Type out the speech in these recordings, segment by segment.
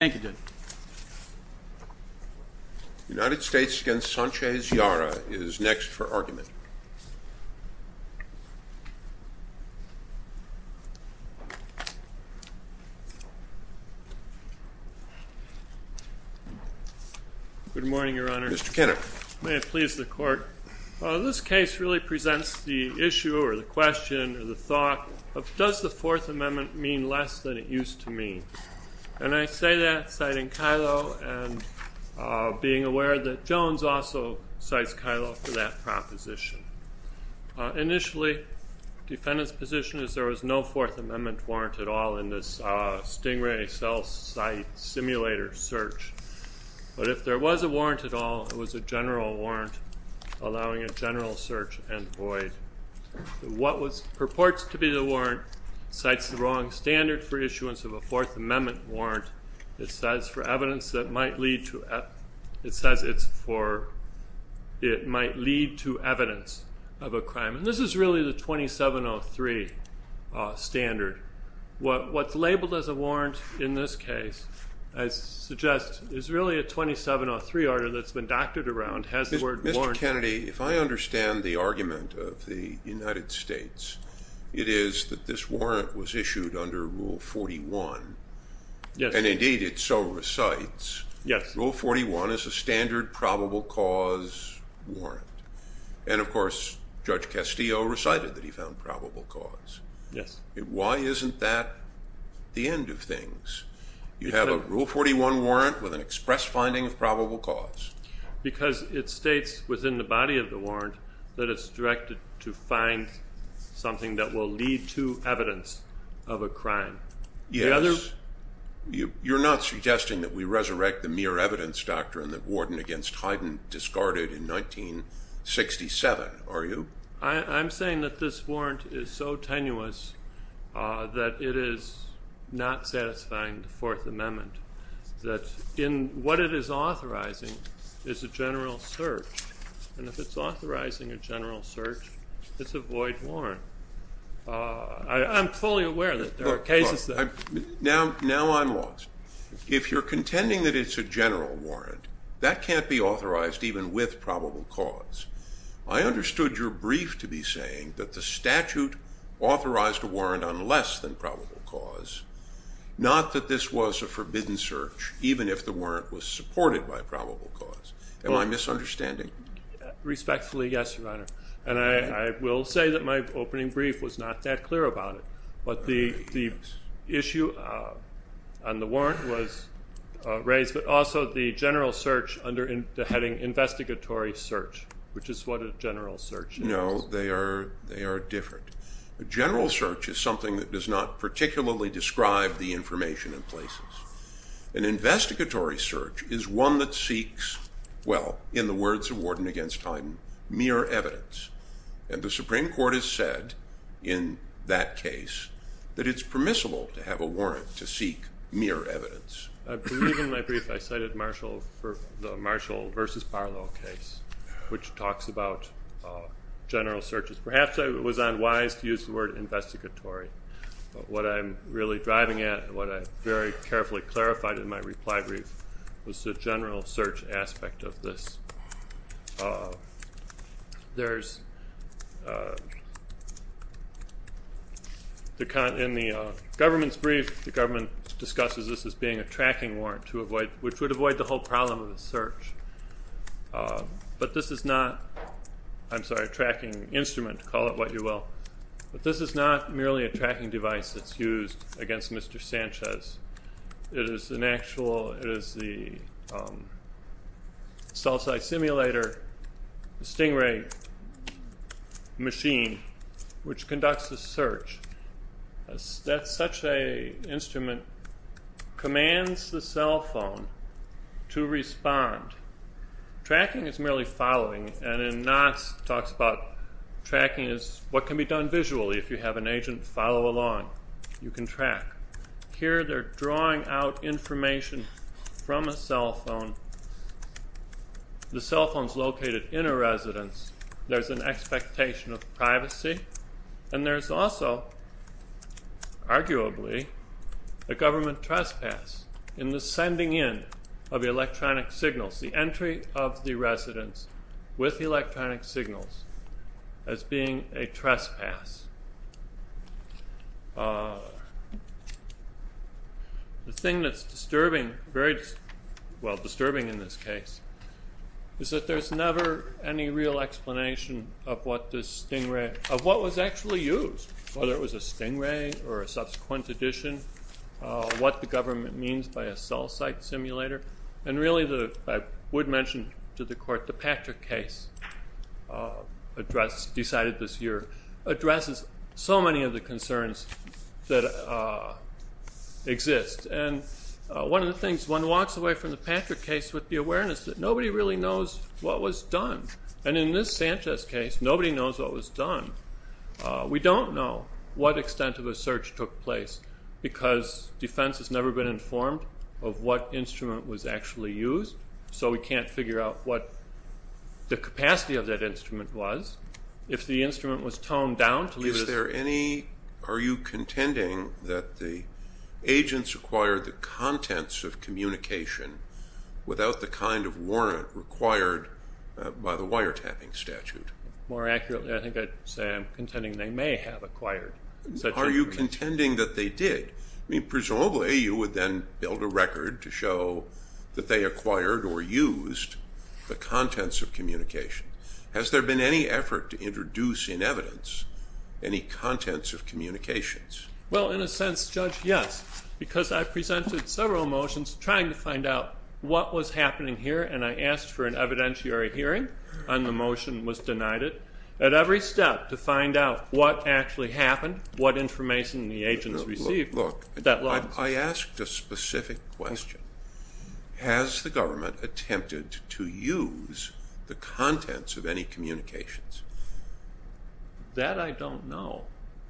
Thank you, Judge. The United States against Sanchez-Yara is next for argument. Good morning, Your Honor. Mr. Kinnock. May it please the Court. This case really presents the issue, or the question, or the thought of, does the Fourth Amendment mean less than it used to mean? And I say that citing Kyllo and being aware that Jones also cites Kyllo for that proposition. Initially, defendant's position is there was no Fourth Amendment warrant at all in this stingray cell site simulator search. But if there was a warrant at all, it was a general warrant allowing a general search and void. What purports to be the warrant cites the wrong standard for issuance of a Fourth Amendment warrant. It cites for evidence that might lead to evidence of a crime. And this is really the 2703 standard. What's labeled as a warrant in this case, I suggest, is really a 2703 order that's been doctored around, has the word warrant. Mr. Kennedy, if I understand the argument of the United States, it is that this warrant was issued under Rule 41. And indeed, it so recites. Rule 41 is a standard probable cause warrant. And of course, Judge Castillo recited that he found probable cause. Why isn't that the end of things? You have a Rule 41 warrant with an express finding of probable cause. Because it states within the body of the warrant that it's directed to find something that will lead to evidence of a crime. Yes. You're not suggesting that we resurrect the mere evidence doctrine that Warden against Hyden discarded in 1967, are you? I'm saying that this warrant is so tenuous that it is not satisfying the Fourth Amendment. That in what it is authorizing is a general search. And if it's authorizing a general search, it's a void warrant. I'm fully aware that there are cases that I've. Now I'm lost. If you're contending that it's a general warrant, that can't be authorized even with probable cause. I understood your brief to be saying that the statute authorized a warrant on less than probable cause, not that this was a forbidden search, even if the warrant was supported by probable cause. Am I misunderstanding? Respectfully, yes, Your Honor. And I will say that my opening brief was not that clear about it. But the issue on the warrant was raised, but also the general search under the heading investigatory search, which is what a general search is. No, they are different. A general search is something that does not particularly describe the information in places. An investigatory search is one that seeks, well, in the words of Warden against Hyden, mere evidence. And the Supreme Court has said in that case that it's permissible to have a warrant to seek mere evidence. I believe in my brief I cited the Marshall versus Barlow case, which talks about general searches. Perhaps I was unwise to use the word investigatory. But what I'm really driving at and what I very carefully clarified in my reply brief was the general search aspect of this. In the government's brief, the government discusses this as being a tracking warrant, which would avoid the whole problem of the search. But this is not, I'm sorry, a tracking instrument. Call it what you will. But this is not merely a tracking device that's used against Mr. Sanchez. It is an actual, it is the cell-side simulator stingray machine, which conducts the search. That's such a instrument, commands the cell phone to respond. Tracking is merely following. And in Knox, it talks about tracking is what can be done visually. If you have an agent follow along, you can track. Here, they're drawing out information from a cell phone. The cell phone's located in a residence. There's an expectation of privacy. And there's also, arguably, a government trespass in the sending in of electronic signals, the entry of the residents with electronic signals as being a trespass. The thing that's disturbing, very, well, disturbing in this case, is that there's never any real explanation of what this stingray, of what was actually used, whether it was a stingray or a subsequent addition, what the government means by a cell-site simulator. And really, I would mention to the court, the Patrick case decided this year addresses so many of the concerns that exist. And one of the things, one walks away from the Patrick case with the awareness that nobody really knows what was done. And in this Sanchez case, nobody knows what was done. We don't know what extent of a search took place, because defense has never been informed of what instrument was actually used. So we can't figure out what the capacity of that instrument was. If the instrument was toned down to leave us. Is there any, are you contending that the agents acquired the contents of communication without the kind of warrant required by the wiretapping statute? More accurately, I think I'd say I'm contending they may have acquired such. Are you contending that they did? I mean, presumably, you would then build a record to show that they acquired or used the contents of communication. Has there been any effort to introduce in evidence any contents of communications? Well, in a sense, Judge, yes. Because I presented several motions trying to find out what was happening here. And I asked for an evidentiary hearing. And the motion was denied it. At every step, to find out what actually happened, what information the agents received, that law. I asked a specific question. Has the government attempted to use the contents of any communications? That I don't know.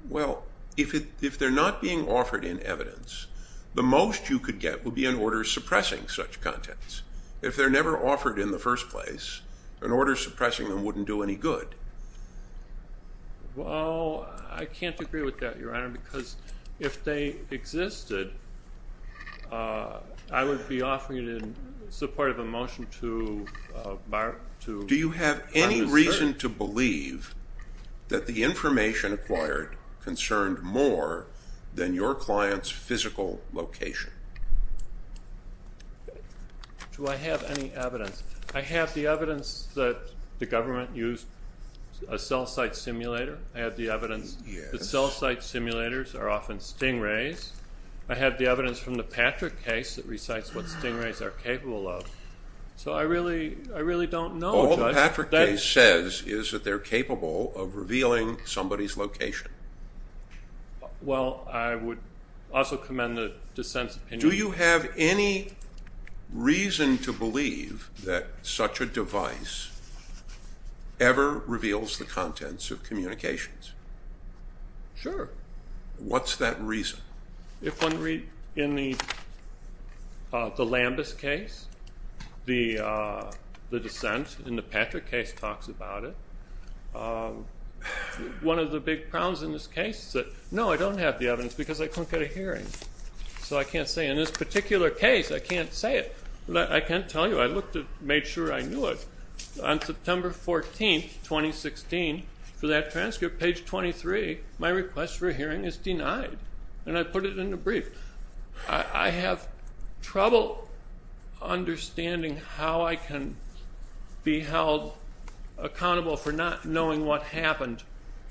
Well, if they're not being offered in evidence, the most you could get would be an order suppressing such contents. If they're never offered in the first place, an order suppressing them wouldn't do any good. Well, I can't agree with that, Your Honor. Because if they existed, I would be offering it in support of a motion to bar it. Do you have any reason to believe that the information acquired concerned more than your client's physical location? Do I have any evidence? I have the evidence that the government used a cell site simulator. I have the evidence that cell site simulators are often stingrays. I have the evidence from the Patrick case that recites what stingrays are capable of. So I really don't know. All the Patrick case says is that they're capable of revealing somebody's location. Well, I would also commend the dissent's opinion. Do you have any reason to believe that such a device ever reveals the contents of communications? Sure. What's that reason? If one read in the Lambus case, the dissent in the Patrick case talks about it. One of the big problems in this case is that, no, I don't have the evidence because I couldn't get a hearing. So I can't say in this particular case, I can't say it. I can't tell you. I looked and made sure I knew it. On September 14, 2016, for that transcript, page 23, my request for a hearing is denied. And I put it in the brief. I have trouble understanding how I can be held accountable for not knowing what happened,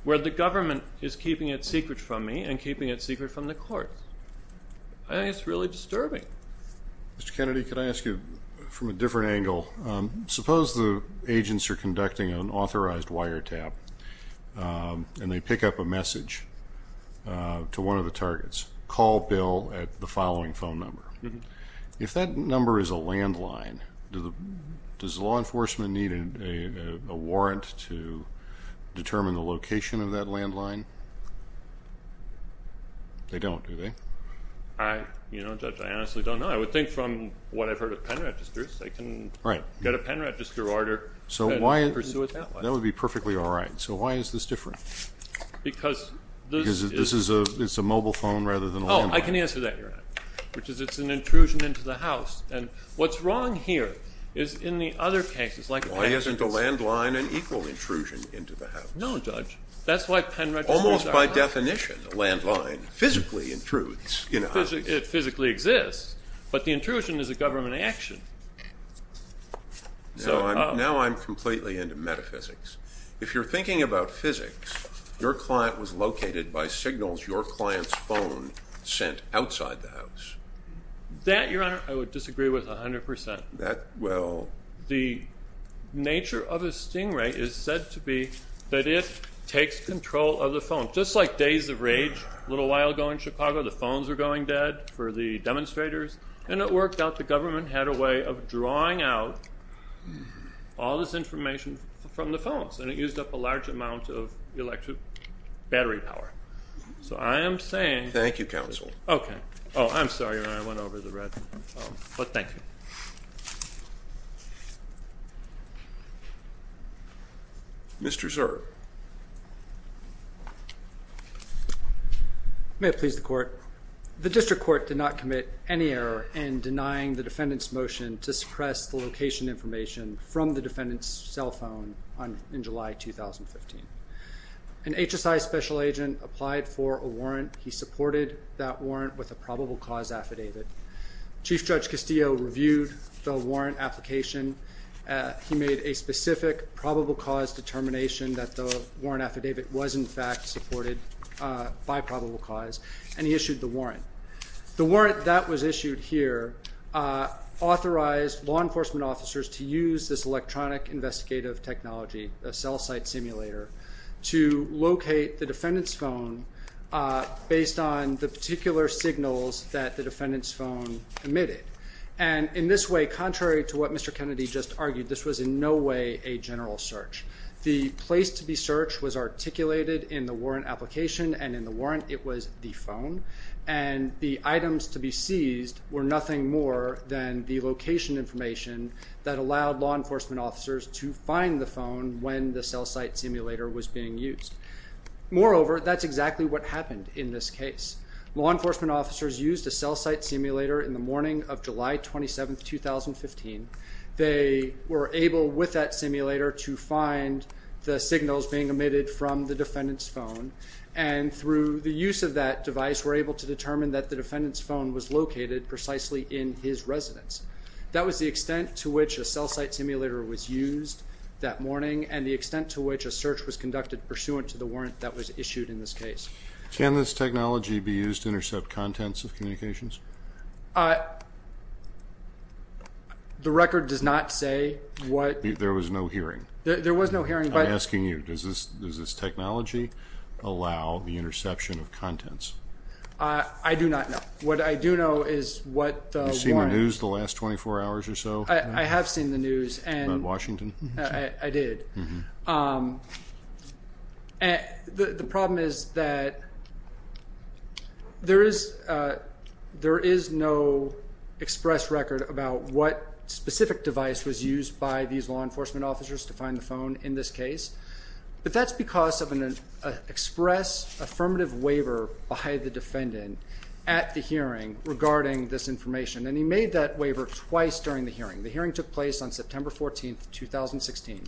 where the government is keeping it secret from me and keeping it secret from the court. I think it's really disturbing. Mr. Kennedy, could I ask you from a different angle? Suppose the agents are conducting an authorized wiretap, and they pick up a message to one of the targets. Call Bill at the following phone number. If that number is a landline, does law enforcement need a warrant to determine the location of that landline? They don't, do they? Judge, I honestly don't know. I would think from what I've heard of pen registers, they can get a pen register order and pursue a landline. That would be perfectly all right. So why is this different? Because this is a mobile phone rather than a landline. Oh, I can answer that, Your Honor, which is it's an intrusion into the house. And what's wrong here is in the other cases, like a pen register. Why isn't a landline an equal intrusion into the house? No, Judge. That's why pen registers are hard. Almost by definition, a landline physically intrudes. It physically exists. But the intrusion is a government action. Now I'm completely into metaphysics. If you're thinking about physics, your client was located by signals your client's phone sent outside the house. That, Your Honor, I would disagree with 100%. Well? The nature of a stingray is said to be that it takes control of the phone. Just like Days of Rage, a little while ago in Chicago, the phones were going dead for the demonstrators. And it worked out the government had a way of drawing out all this information from the phones. And it used up a large amount of electric battery power. So I am saying. Thank you, counsel. OK. Oh, I'm sorry, Your Honor. I went over the red. But thank you. Mr. Zurb. May it please the court. The district court did not commit any error in denying the defendant's motion to suppress the location information from the defendant's cell phone in July 2015. An HSI special agent applied for a warrant. He supported that warrant with a probable cause affidavit. Chief Judge Castillo reviewed the warrant application. He made a specific probable cause determination that the warrant affidavit was, in fact, supported by probable cause. And he issued the warrant. The warrant that was issued here authorized law enforcement officers to use this electronic investigative technology, a cell site simulator, to locate the defendant's phone based on the particular signals that the defendant's phone emitted. And in this way, contrary to what Mr. Kennedy just argued, this was in no way a general search. The place to be searched was articulated in the warrant application. And in the warrant, it was the phone. And the items to be seized were nothing more than the location information that allowed law enforcement officers to find the phone when the cell site simulator was being used. Moreover, that's exactly what happened in this case. Law enforcement officers used a cell site simulator in the morning of July 27, 2015. They were able, with that simulator, to find the signals being emitted from the defendant's phone. And through the use of that device, were able to determine that the defendant's phone was located precisely in his residence. That was the extent to which a cell site simulator was used that morning, and the extent to which a search was conducted pursuant to the warrant that was issued in this case. Can this technology be used to intercept contents of communications? Uh, the record does not say what. There was no hearing. There was no hearing. But I'm asking you, does this technology allow the interception of contents? I do not know. What I do know is what the warrant. You seen the news the last 24 hours or so? I have seen the news. About Washington? I did. Mm-hmm. The problem is that there is no express record about what specific device was used by these law enforcement officers to find the phone in this case. But that's because of an express affirmative waiver by the defendant at the hearing regarding this information. And he made that waiver twice during the hearing. The hearing took place on September 14, 2016.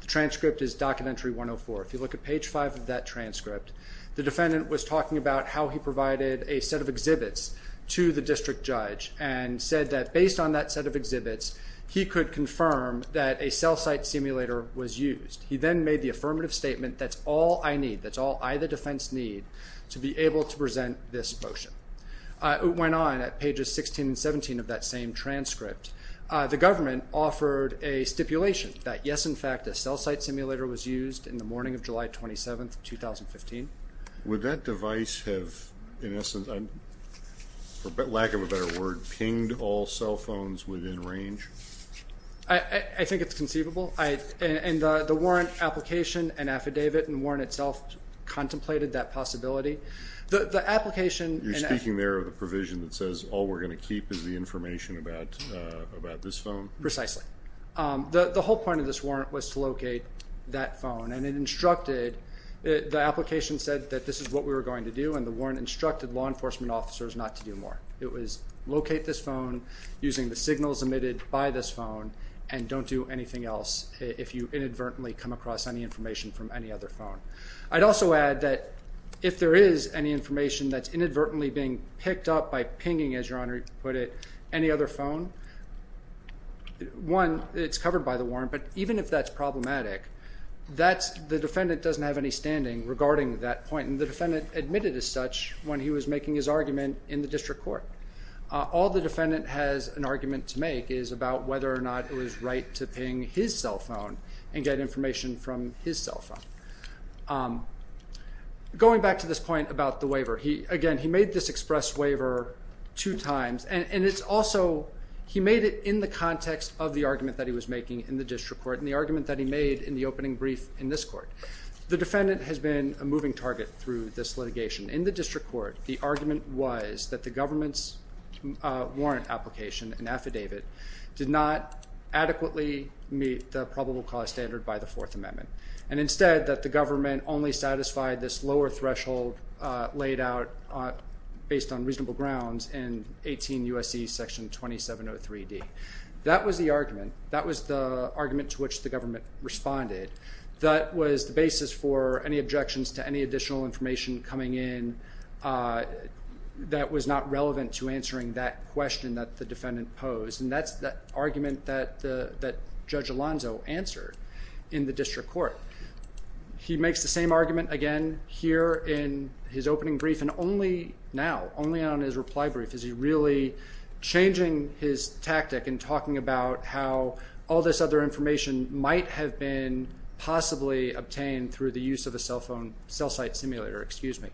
The transcript is Documentary 104. If you look at page 5 of that transcript, the defendant was talking about how he provided a set of exhibits to the district judge and said that based on that set of exhibits, he could confirm that a cell site simulator was used. He then made the affirmative statement, that's all I need. That's all I, the defense, need to be able to present this motion. It went on at pages 16 and 17 of that same transcript. The government offered a stipulation that yes, in fact, a cell site simulator was used in the morning of July 27, 2015. Would that device have, in essence, for lack of a better word, pinged all cell phones within range? I think it's conceivable. And the warrant application and affidavit and warrant itself contemplated that possibility. The application and affidavit. You're speaking there of a provision that says all we're going to keep is the information about this phone? Precisely. The whole point of this warrant was to locate that phone. And it instructed, the application said that this is what we were going to do. And the warrant instructed law enforcement officers not to do more. It was locate this phone using the signals emitted by this phone and don't do anything else if you inadvertently come across any information from any other phone. I'd also add that if there is any information that's inadvertently being picked up by pinging, as your honor put it, any other phone, one, it's covered by the warrant. But even if that's problematic, the defendant doesn't have any standing regarding that point. And the defendant admitted as such when he was making his argument in the district court. All the defendant has an argument to make is about whether or not it was right to ping his cell phone and get information from his cell phone. Going back to this point about the waiver, again, he made this express waiver two times. And it's also, he made it in the context of the argument that he was making in the district court and the argument that he made in the opening brief in this court. The defendant has been a moving target through this litigation. In the district court, the argument was that the government's warrant application, an affidavit, did not adequately meet the probable cause standard by the Fourth Amendment. And instead, that the government only satisfied this lower threshold laid out based on reasonable grounds in 18 U.S.C. Section 2703D. That was the argument. That was the argument to which the government responded. That was the basis for any objections to any additional information coming in that was not relevant to answering that question that the defendant posed. And that's the argument that Judge Alonzo answered in the district court. He makes the same argument again here in his opening brief and only now, only on his reply brief, is he really changing his tactic in talking about how all this other information might have been possibly obtained through the use of a cell phone, cell site simulator, excuse me.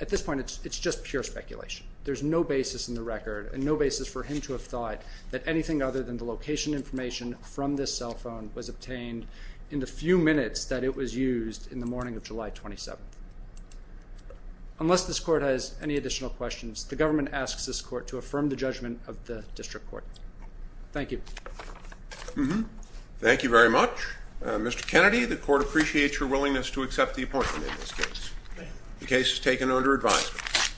At this point, it's just pure speculation. There's no basis in the record and no basis for him to have thought that anything other than the location information from this cell phone was obtained in the few minutes that it was used in the morning of July 27th. Unless this court has any additional questions, the government asks this court to affirm the judgment of the district court. Thank you. Thank you very much. Mr. Kennedy, the court appreciates your willingness to accept the appointment in this case. The case is taken under advisement.